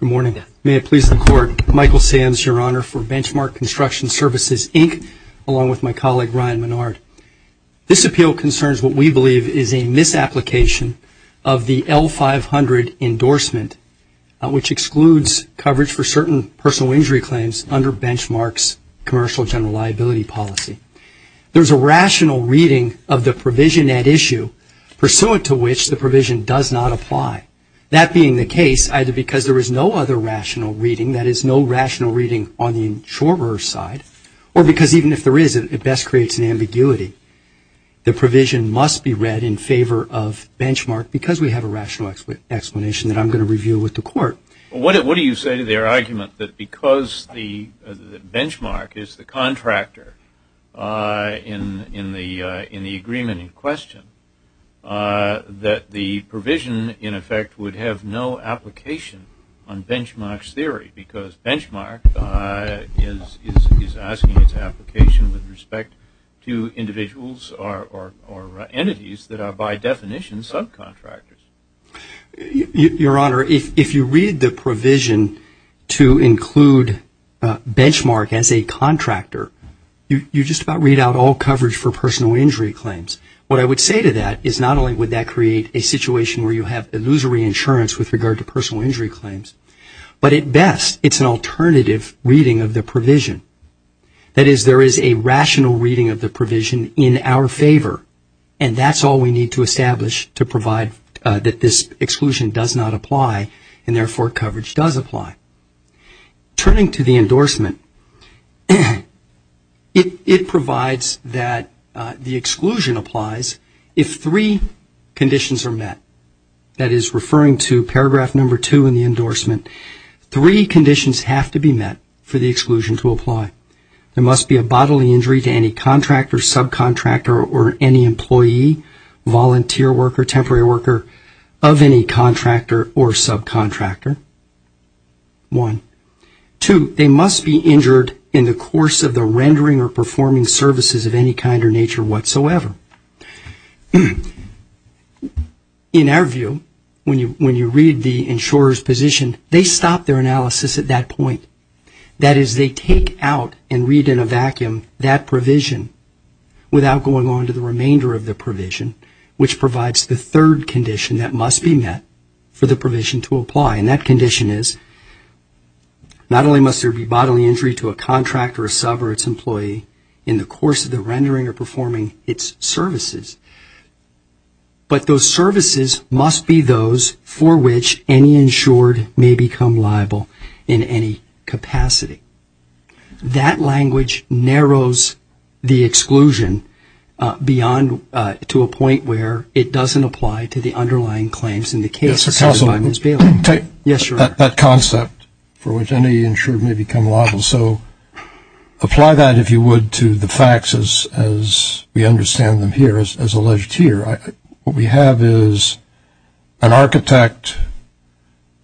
Good morning. May it please the Court, Michael Sands, your Honor, for Benchmark Construction Services, Inc., along with my colleague, Ryan Menard. This appeal concerns what we believe is a misapplication of the L-500 endorsement, which excludes coverage for certain personal injury claims under Benchmark's Commercial General Liability Policy. There is a rational reading of the provision at issue, pursuant to which the provision does not apply. That being the case, either because there is no other rational reading, that is, no rational reading on the insurer's side, or because even if there is, it best creates an ambiguity. The provision must be read in favor of Benchmark because we have a rational explanation that I'm going to review with the Court. Well, what do you say to their argument that because Benchmark is the contractor in the agreement in question, that the provision, in effect, would have no application on Benchmark's application with respect to individuals or entities that are, by definition, subcontractors? Your Honor, if you read the provision to include Benchmark as a contractor, you just about read out all coverage for personal injury claims. What I would say to that is not only would that create a situation where you have illusory insurance with regard to personal is there is a rational reading of the provision in our favor, and that's all we need to establish to provide that this exclusion does not apply, and therefore coverage does apply. Turning to the endorsement, it provides that the exclusion applies if three conditions are met. That is, referring to paragraph number two in the endorsement, three conditions have to be met for the exclusion to apply. There must be a bodily injury to any contractor, subcontractor, or any employee, volunteer worker, temporary worker of any contractor or subcontractor, one. Two, they must be injured in the course of the rendering or performing services of any kind or nature whatsoever. In our view, when you read the insurer's position, they stop their analysis at that point. That is, they take out and read in a vacuum that provision without going on to the remainder of the provision, which provides the third condition that must be met for the provision to apply, and that condition is not only must there be bodily injury to a contractor, a sub, or its employee in the course of the rendering or performing its services, but those services must be those for which any insured may become liable in any capacity. That language narrows the exclusion beyond to a point where it doesn't apply to the underlying claims in the case cited by Ms. Bailey. Yes, sir. That concept for which any insured may become liable. So apply that, if you would, to the understanding here, as alleged here. What we have is an architect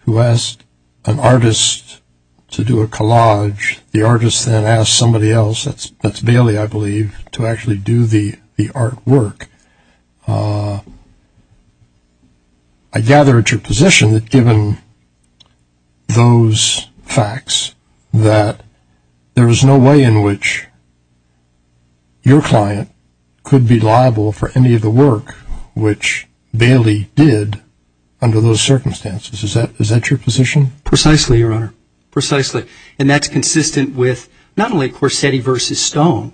who asked an artist to do a collage. The artist then asked somebody else, that's Bailey, I believe, to actually do the artwork. I gather at your position that given those facts, that there is no way in which your client could be liable for any of the work which Bailey did under those circumstances. Is that your position? Precisely, Your Honor. Precisely. And that's consistent with not only Corsetti v. Stone,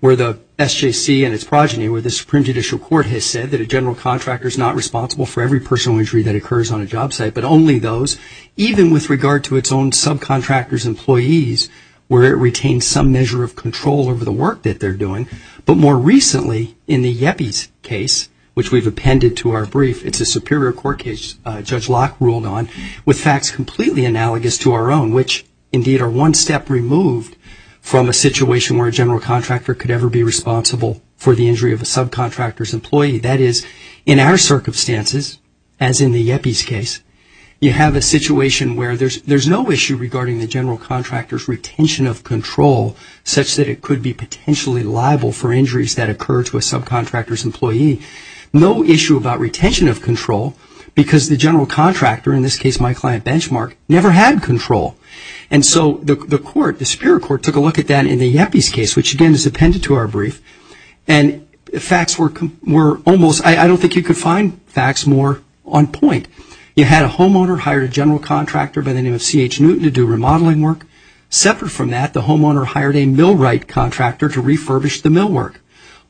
where the SJC and its progeny, where the Supreme Judicial Court has said that a general contractor is not responsible for every personal injury that occurs on a job site, but only those, even with regard to its own subcontractors' employees, where it retains some measure of control over the work that they're doing. But more recently, in the Yepes case, which we've appended to our brief, it's a Superior Court case Judge Locke ruled on, with facts completely analogous to our own, which indeed are one step removed from a situation where a general contractor could ever be responsible for the injury of a subcontractor's employee. That is, in our circumstances, as in the Yepes case, you have a situation where there's no issue regarding the general contractor's retention of control such that it could be potentially liable for injuries that occur to a subcontractor's employee. No issue about retention of control because the general contractor, in this case my client Benchmark, never had control. And so the court, the Superior Court, took a look at that in the Yepes case, which again is I don't think you could find facts more on point. You had a homeowner hire a general contractor by the name of C.H. Newton to do remodeling work. Separate from that, the homeowner hired a Millwright contractor to refurbish the millwork.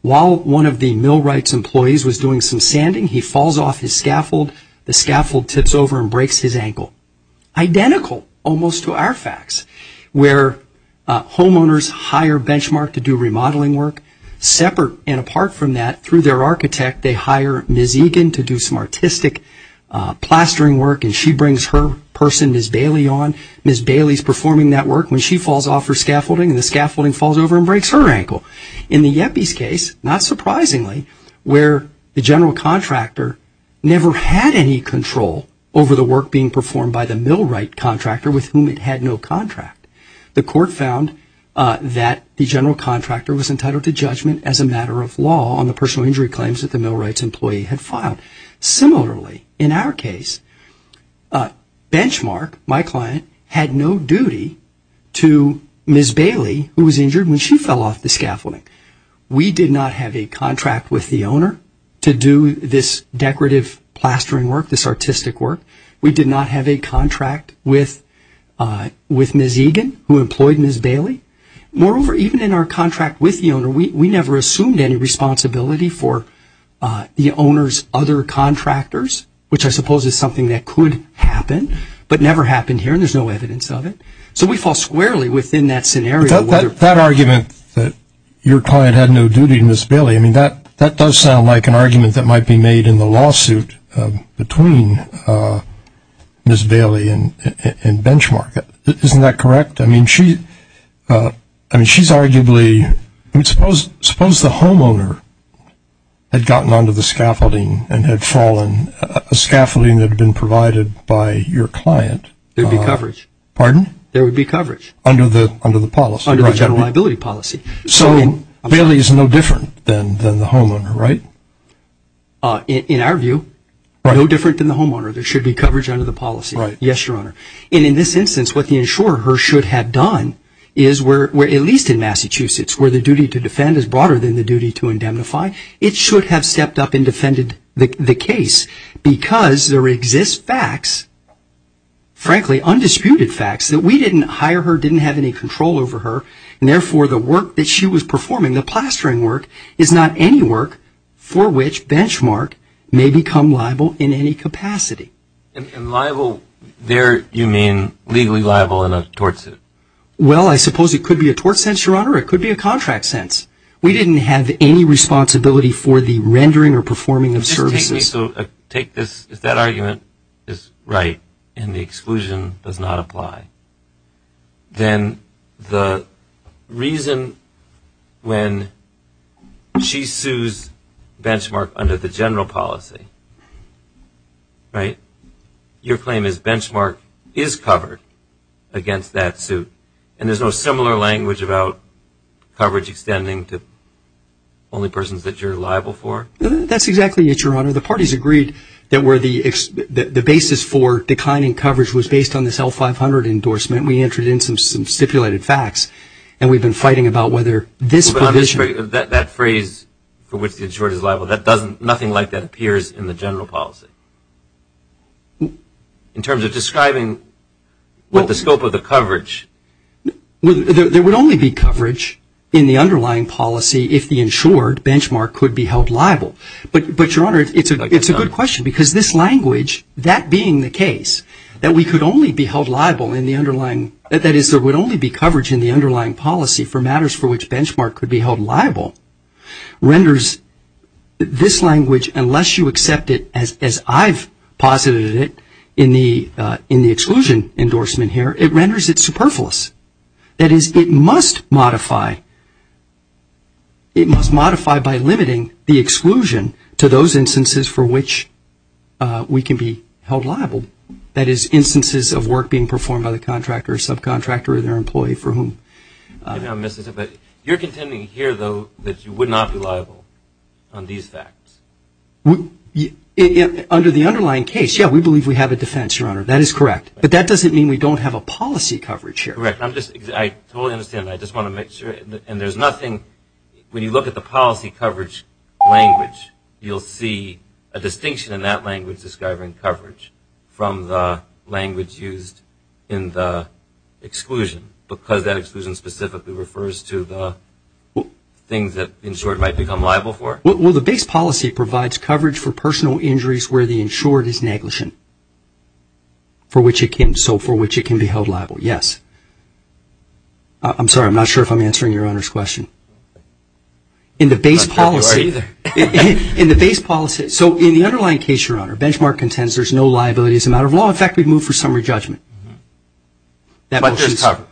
While one of the Millwright's employees was doing some sanding, he falls off his scaffold, the scaffold tips over and breaks his ankle. Identical almost to our facts, where homeowners hire Benchmark to do remodeling work. Separate and apart from that, through their architect, they hire Ms. Egan to do some artistic plastering work and she brings her person, Ms. Bailey, on. Ms. Bailey's performing that work when she falls off her scaffolding and the scaffolding falls over and breaks her ankle. In the Yepes case, not surprisingly, where the general contractor never had any control over the work being performed by the Millwright contractor with whom it had no contract. The court found that the general contractor was entitled to judgment as a matter of law on the personal injury claims that the Millwright's employee had filed. Similarly, in our case, Benchmark, my client, had no duty to Ms. Bailey who was injured when she fell off the scaffolding. We did not have a contract with the owner to do this decorative plastering work, this artistic work. We did not have a contract with Ms. Egan who employed Ms. Bailey. Moreover, even in our contract with the owner, we never assumed any responsibility for the owner's other contractors, which I suppose is something that could happen, but never happened here and there's no evidence of it. So we fall squarely within that scenario. That argument that your client had no duty to Ms. Bailey, I mean, that does sound like an argument that might be made in the lawsuit between Ms. Bailey and Benchmark. Isn't that correct? I mean, she's arguably, suppose the homeowner had gotten onto the scaffolding and had fallen, a scaffolding that had been provided by your client. There would be coverage. Pardon? There would be coverage. Under the policy. Under the general liability policy. So Bailey is no different than the homeowner, right? In our view, no different than the homeowner. There should be coverage under the policy. Yes, Your Honor. And in this instance, what the insurer should have done is where, at least in Massachusetts, where the duty to defend is broader than the duty to indemnify, it should have stepped up and defended the case because there exist facts, frankly, undisputed facts that we didn't hire her, didn't have any control over her, and therefore the work that she was performing, the plastering work, is not any work for which Benchmark may become liable in any capacity. And liable there, you mean, legally liable in a tort suit? Well, I suppose it could be a tort sense, Your Honor. It could be a contract sense. We didn't have any responsibility for the rendering or performing of services. Take this, if that argument is right and the exclusion does not apply, then the reason when she sues Benchmark under the general policy, right, your claim is Benchmark is covered against that suit and there's no similar language about coverage extending to only persons that you're liable for? That's exactly it, Your Honor. The parties agreed that the basis for declining coverage was based on this L-500 endorsement. We entered in some stipulated facts and we've been fighting about whether this provision... That phrase for which the insured is liable, that doesn't, nothing like that appears in the general policy. In terms of describing what the scope of the coverage... There would only be coverage in the underlying policy if the insured, Benchmark, could be held liable. But, Your Honor, it's a good question because this language, that being the case, that we could only be held liable in the underlying, that is there would only be coverage in the underlying policy for matters for which Benchmark could be held liable, renders this language, unless you accept it as I've posited it in the exclusion endorsement here, it renders it superfluous. That is, it must modify by limiting the exclusion to those instances for which we can be held liable, that is, instances of work being performed by the contractor or subcontractor or their employee for whom... You're contending here, though, that you would not be liable on these facts? Under the underlying case, yeah, we believe we have a defense, Your Honor, that is correct. But that doesn't mean we don't have a policy coverage here. Correct. I'm just, I totally understand that. I just want to make sure, and there's nothing, when you look at the policy coverage language, you'll see a distinction in that language describing coverage from the language used in the exclusion, because that exclusion specifically refers to the things that the insured might become liable for? Well, the base policy provides coverage for personal injuries where the insured is negligent, for which it can, so for which it can be held liable, yes. I'm sorry, I'm not sure if I'm answering Your Honor's question. In the base policy... I'm not sure who you are either. In the base policy, so in the underlying case, Your Honor, Benchmark contends there's no liability as a matter of law. In fact, we've moved for summary judgment. But there's coverage.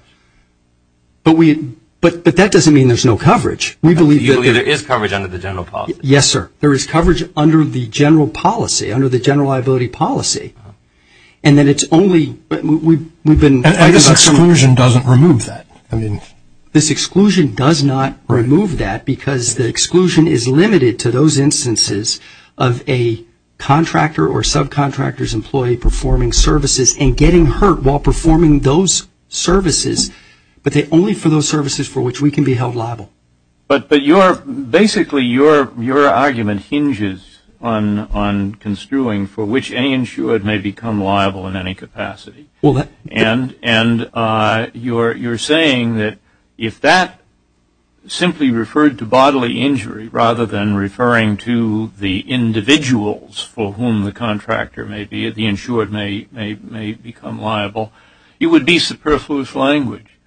But we, but that doesn't mean there's no coverage. We believe that... You believe there is coverage under the general policy? Yes, sir. There is coverage under the general policy, under the general liability policy. And then it's only, we've been... And this exclusion doesn't remove that. I mean... This exclusion does not remove that, because the exclusion is limited to those instances of a contractor or subcontractor's employee performing services and getting hurt while performing those services, but only for those services for which we can be held liable. But your, basically your argument hinges on construing for which any insured may become liable in any capacity. Well, that... And you're saying that if that simply referred to bodily injury rather than referring to the individuals for whom the contractor may be, the insured may become liable, it would be superfluous language.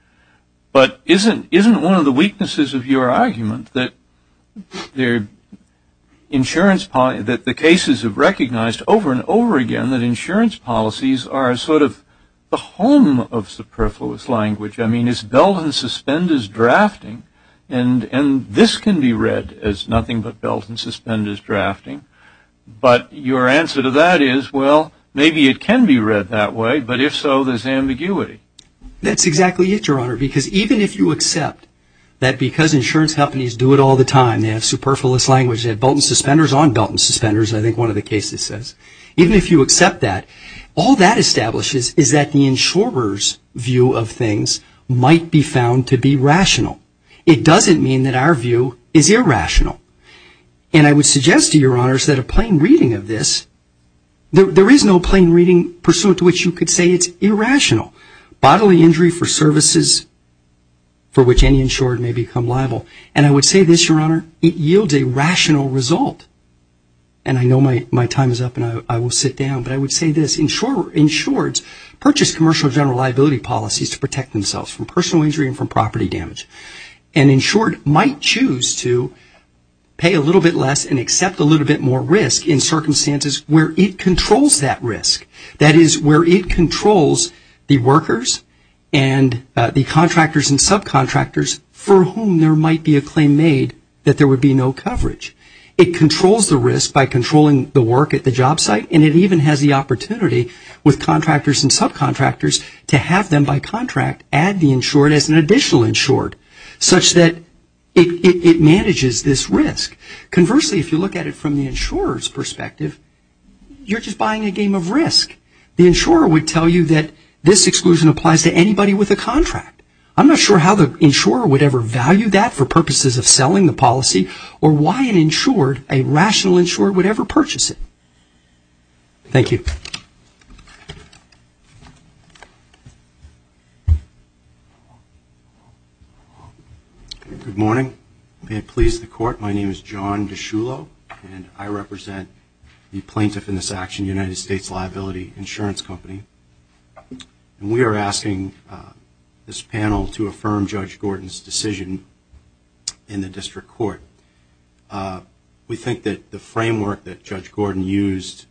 But isn't one of the weaknesses of your argument that the insurance, that the cases have recognized over and over again that insurance policies are sort of the home of superfluous language? I mean, it's belt and suspenders drafting, and this can be read as nothing but belt and suspenders drafting. But your answer to that is, well, maybe it can be read that way, but if so, there's ambiguity. That's exactly it, Your Honor, because even if you accept that because insurance companies do it all the time, they have superfluous language, they have belt and suspenders on Even if you accept that, all that establishes is that the insurer's view of things might be found to be rational. It doesn't mean that our view is irrational. And I would suggest to Your Honors that a plain reading of this, there is no plain reading pursuant to which you could say it's irrational. Bodily injury for services for which any insured may become liable. And I would say this, Your Honor, it yields a rational result. And I know my time is up and I will sit down, but I would say this, insureds purchase commercial general liability policies to protect themselves from personal injury and from property damage. An insured might choose to pay a little bit less and accept a little bit more risk in circumstances where it controls that risk. That is, where it controls the workers and the contractors and subcontractors for whom there might be a claim made that there would be no coverage. It controls the risk by controlling the work at the job site and it even has the opportunity with contractors and subcontractors to have them by contract add the insured as an additional insured such that it manages this risk. Conversely, if you look at it from the insurer's perspective, you're just buying a game of risk. The insurer would tell you that this exclusion applies to anybody with a contract. I'm not sure how the insurer would ever value that for purposes of selling the policy or why an insured, a rational insured, would ever purchase it. Thank you. Good morning. May it please the Court, my name is John DiCiullo and I represent the plaintiff in this action, United States Liability Insurance Company. We are asking this panel to affirm Judge Gordon's decision in the District Court. We think that the framework that Judge Gordon used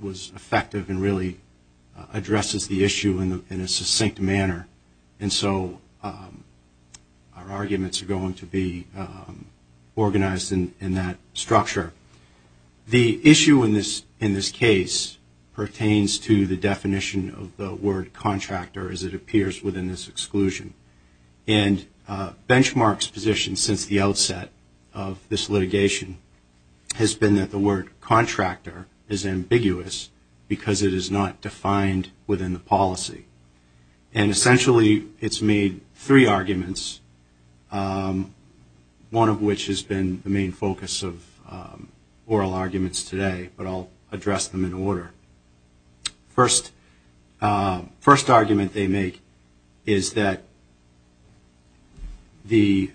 was effective and really addresses the issue in a succinct manner and so our arguments are going to be organized in that structure. The issue in this case pertains to the definition of the word contractor as it appears within this exclusion and Benchmark's position since the outset of this litigation has been that the word contractor is ambiguous because it is not defined within the policy. And essentially it's made three arguments, one of which has been the main focus of oral arguments today, but I'll address them in order. First argument they make is that the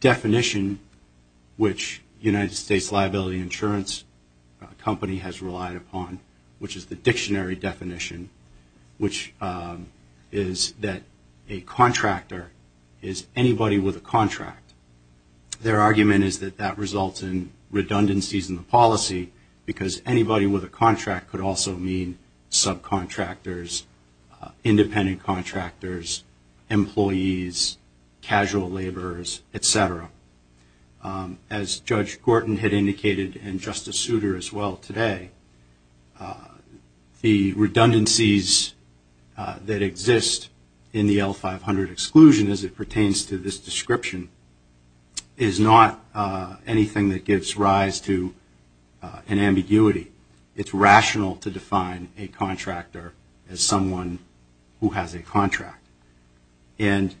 definition which United States Liability Insurance Company has relied upon, which is the dictionary definition, which is that a contractor is anybody with a contract. Their argument is that that results in redundancies in the policy because anybody with a contract could also mean subcontractors, independent contractors, employees, casual laborers, etc. As Judge Gordon had indicated and Justice Souter as well today, the redundancies that exist in the L-500 exclusion as it pertains to this description is not anything that gives rise to an ambiguity. It's rational to define a contractor as someone who has a contract. And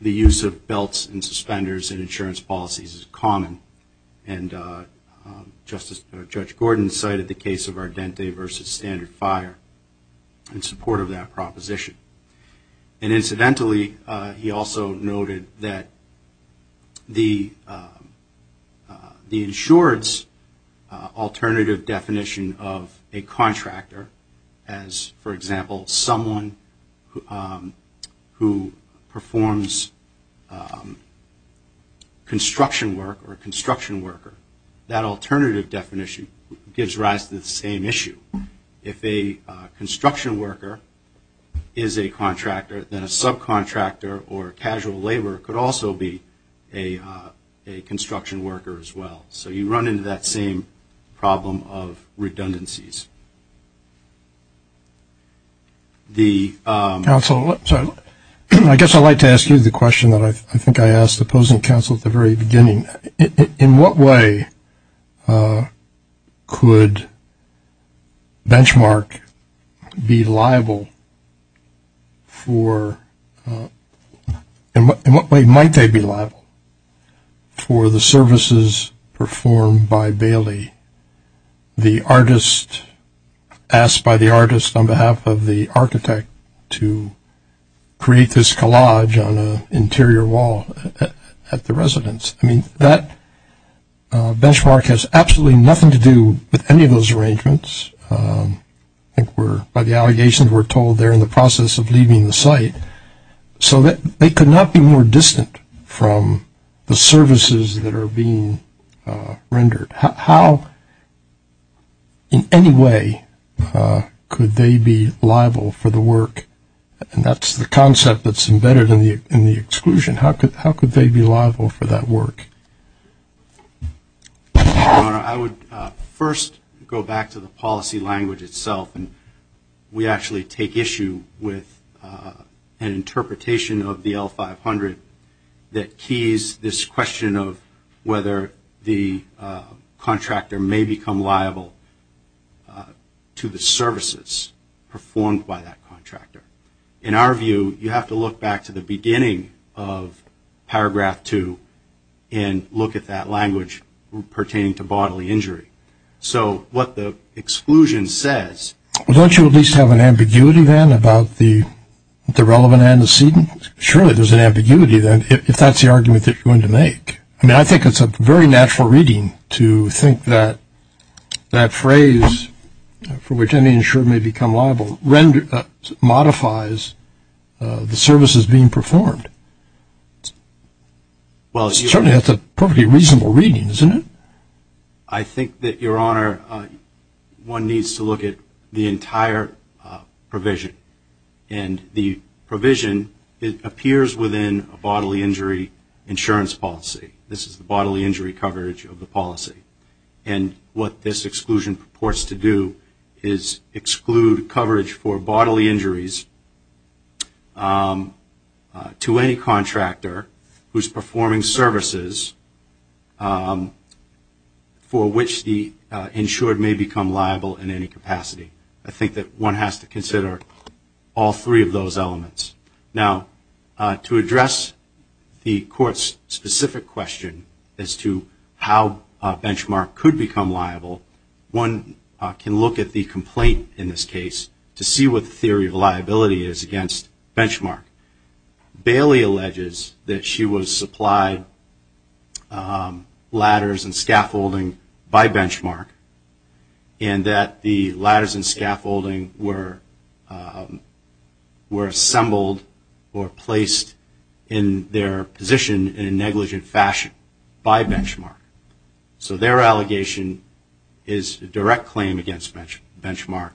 the use of belts and suspenders in insurance policies is common and Judge Gordon cited the case of Ardente versus Standard Fire in support of that proposition. And incidentally, he also noted that the insured's alternative definition of a contractor as, for example, someone who performs construction work or a construction worker. That alternative definition gives rise to the same issue. If a construction worker is a contractor, then a subcontractor or casual laborer could also be a construction worker as well. So you run into that same problem of redundancies. The... Counsel, I guess I'd like to ask you the question that I think I asked the opposing counsel at the very beginning. In what way could benchmark be liable for, in what way might they be liable for the services performed by Bailey? The artist... Asked by the artist on behalf of the architect to create this collage on an interior wall at the residence. I mean, that benchmark has absolutely nothing to do with any of those arrangements. I think we're... By the allegations, we're told they're in the process of leaving the site. So they could not be more distant from the services that are being rendered. How in any way could they be liable for the work? And that's the concept that's embedded in the exclusion. How could they be liable for that work? I would first go back to the policy language itself. And we actually take issue with an interpretation of the L-500 that keys this question of whether the contractor may become liable to the services performed by that contractor. In our view, you have to look back to the beginning of paragraph two and look at that language pertaining to bodily injury. So what the exclusion says... Don't you at least have an ambiguity then about the relevant antecedent? Surely there's an ambiguity then if that's the argument that you're going to make. I mean, I think it's a very natural reading to think that that phrase, for which any insurer may become liable, modifies the services being performed. Certainly that's a perfectly reasonable reading, isn't it? I think that, Your Honor, one needs to look at the entire provision. And the provision appears within a bodily injury insurance policy. This is the bodily injury coverage of the policy. And what this exclusion purports to do is exclude coverage for bodily injuries to any contractor who's performing services for which the insured may become liable in any capacity. I think that one has to consider all three of those elements. Now, to address the Court's specific question as to how a benchmark could become liable, one can look at the complaint in this case to see what the theory of liability is against benchmark. Bailey alleges that she was supplied ladders and scaffolding by benchmark and that the ladders and scaffolding were assembled or placed in their position in a negligent fashion by benchmark. So their allegation is a direct claim against benchmark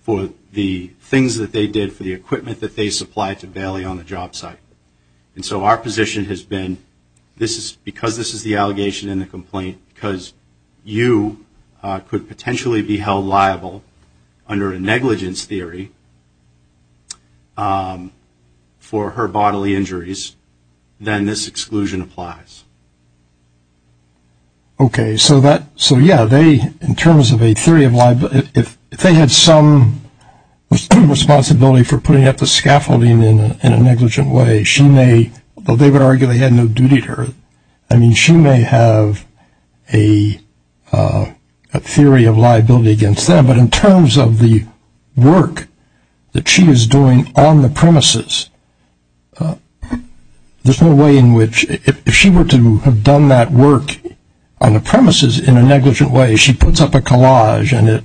for the things that they did, for the equipment that they supplied to Bailey on the job site. And so our position has been, because this is the allegation and the complaint, because you could potentially be held liable under a negligence theory for her bodily injuries, then this exclusion applies. Okay. So, yeah, in terms of a theory of liability, if they had some responsibility for putting up the scaffolding in a negligent way, they would argue they had no duty to her. I mean, she may have a theory of liability against them, but in terms of the work that she is doing on the premises, there's no way in which if she were to have done that work on the premises in a negligent way, she puts up a collage and it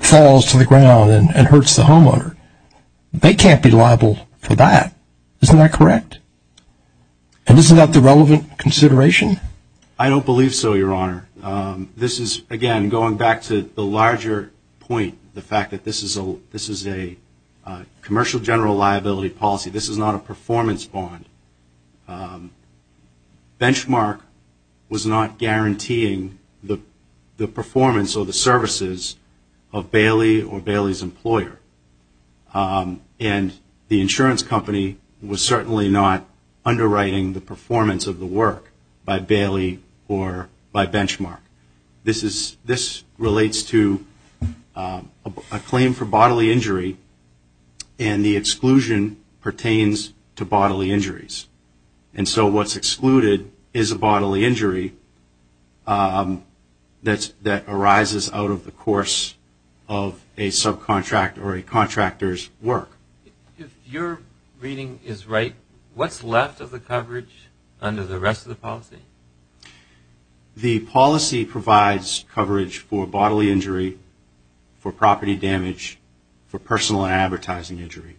falls to the ground and hurts the homeowner. They can't be liable for that. Isn't that correct? And isn't that the relevant consideration? I don't believe so, Your Honor. This is, again, going back to the larger point, the fact that this is a commercial general liability policy. This is not a performance bond. Benchmark was not guaranteeing the performance or the services of Bailey or Bailey's employer. And the insurance company was certainly not underwriting the performance of the work by Bailey or by Benchmark. This relates to a claim for bodily injury, and the exclusion pertains to bodily injuries. And so what's excluded is a bodily injury that arises out of the course of a subcontractor or a contractor's work. If your reading is right, what's left of the coverage under the rest of the policy? The policy provides coverage for bodily injury, for property damage, for personal and advertising injury.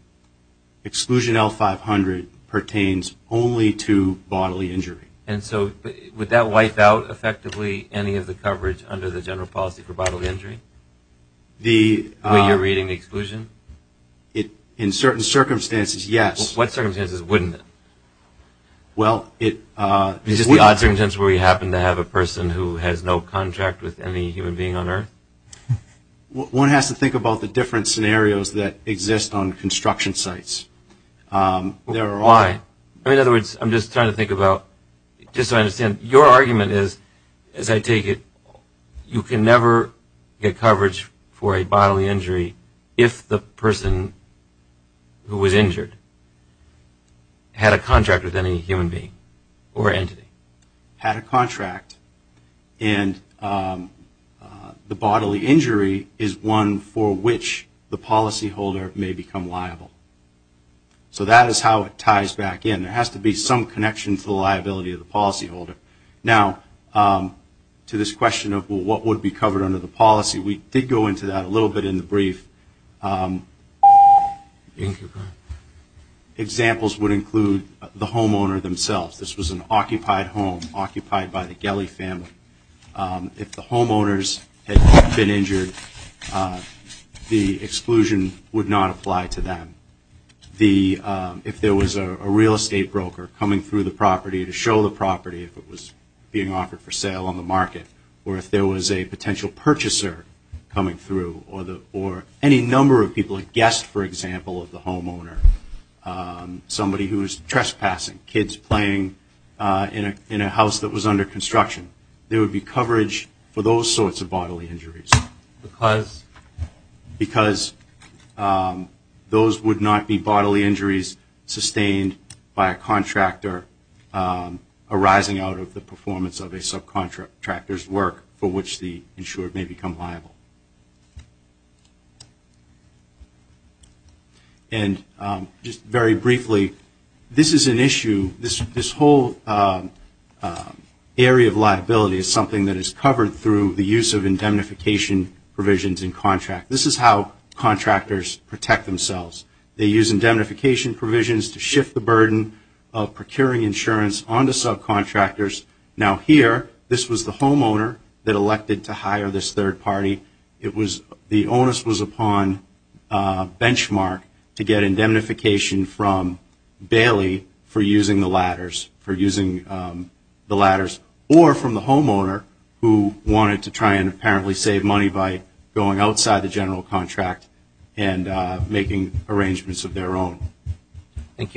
Exclusion L-500 pertains only to bodily injury. And so would that wipe out effectively any of the coverage under the general policy for bodily injury? The way you're reading the exclusion? In certain circumstances, yes. What circumstances wouldn't it? Well, it wouldn't. Is this the odd circumstance where we happen to have a person who has no contract with any human being on earth? One has to think about the different scenarios that exist on construction sites. Why? In other words, I'm just trying to think about, just so I understand, your argument is, as I take it, you can never get coverage for a bodily injury if the person who was injured had a contract with any human being or entity. Had a contract, and the bodily injury is one for which the policyholder may become liable. So that is how it ties back in. There has to be some connection to the liability of the policyholder. Now, to this question of what would be covered under the policy, we did go into that a little bit in the brief. Examples would include the homeowner themselves. This was an occupied home, occupied by the Gelley family. If the homeowners had been injured, the exclusion would not apply to them. If there was a real estate broker coming through the property to show the property, if it was being offered for sale on the market, or if there was a potential purchaser coming through, or any number of people, a guest, for example, of the homeowner. Somebody who was trespassing, kids playing in a house that was under construction. There would be coverage for those sorts of bodily injuries. Because? Because those would not be bodily injuries sustained by a contractor arising out of the performance of a subcontractor's work, for which the insurer may become liable. And just very briefly, this is an issue. This whole area of liability is something that is covered through the use of indemnification provisions in contract. This is how contractors protect themselves. They use indemnification provisions to shift the burden of procuring insurance onto subcontractors. Now, here, this was the homeowner that elected to hire this third party. The onus was upon benchmark to get indemnification from Bailey for using the ladders, or from the homeowner who wanted to try and apparently save money by going outside the general contract and making arrangements of their own. Thank you.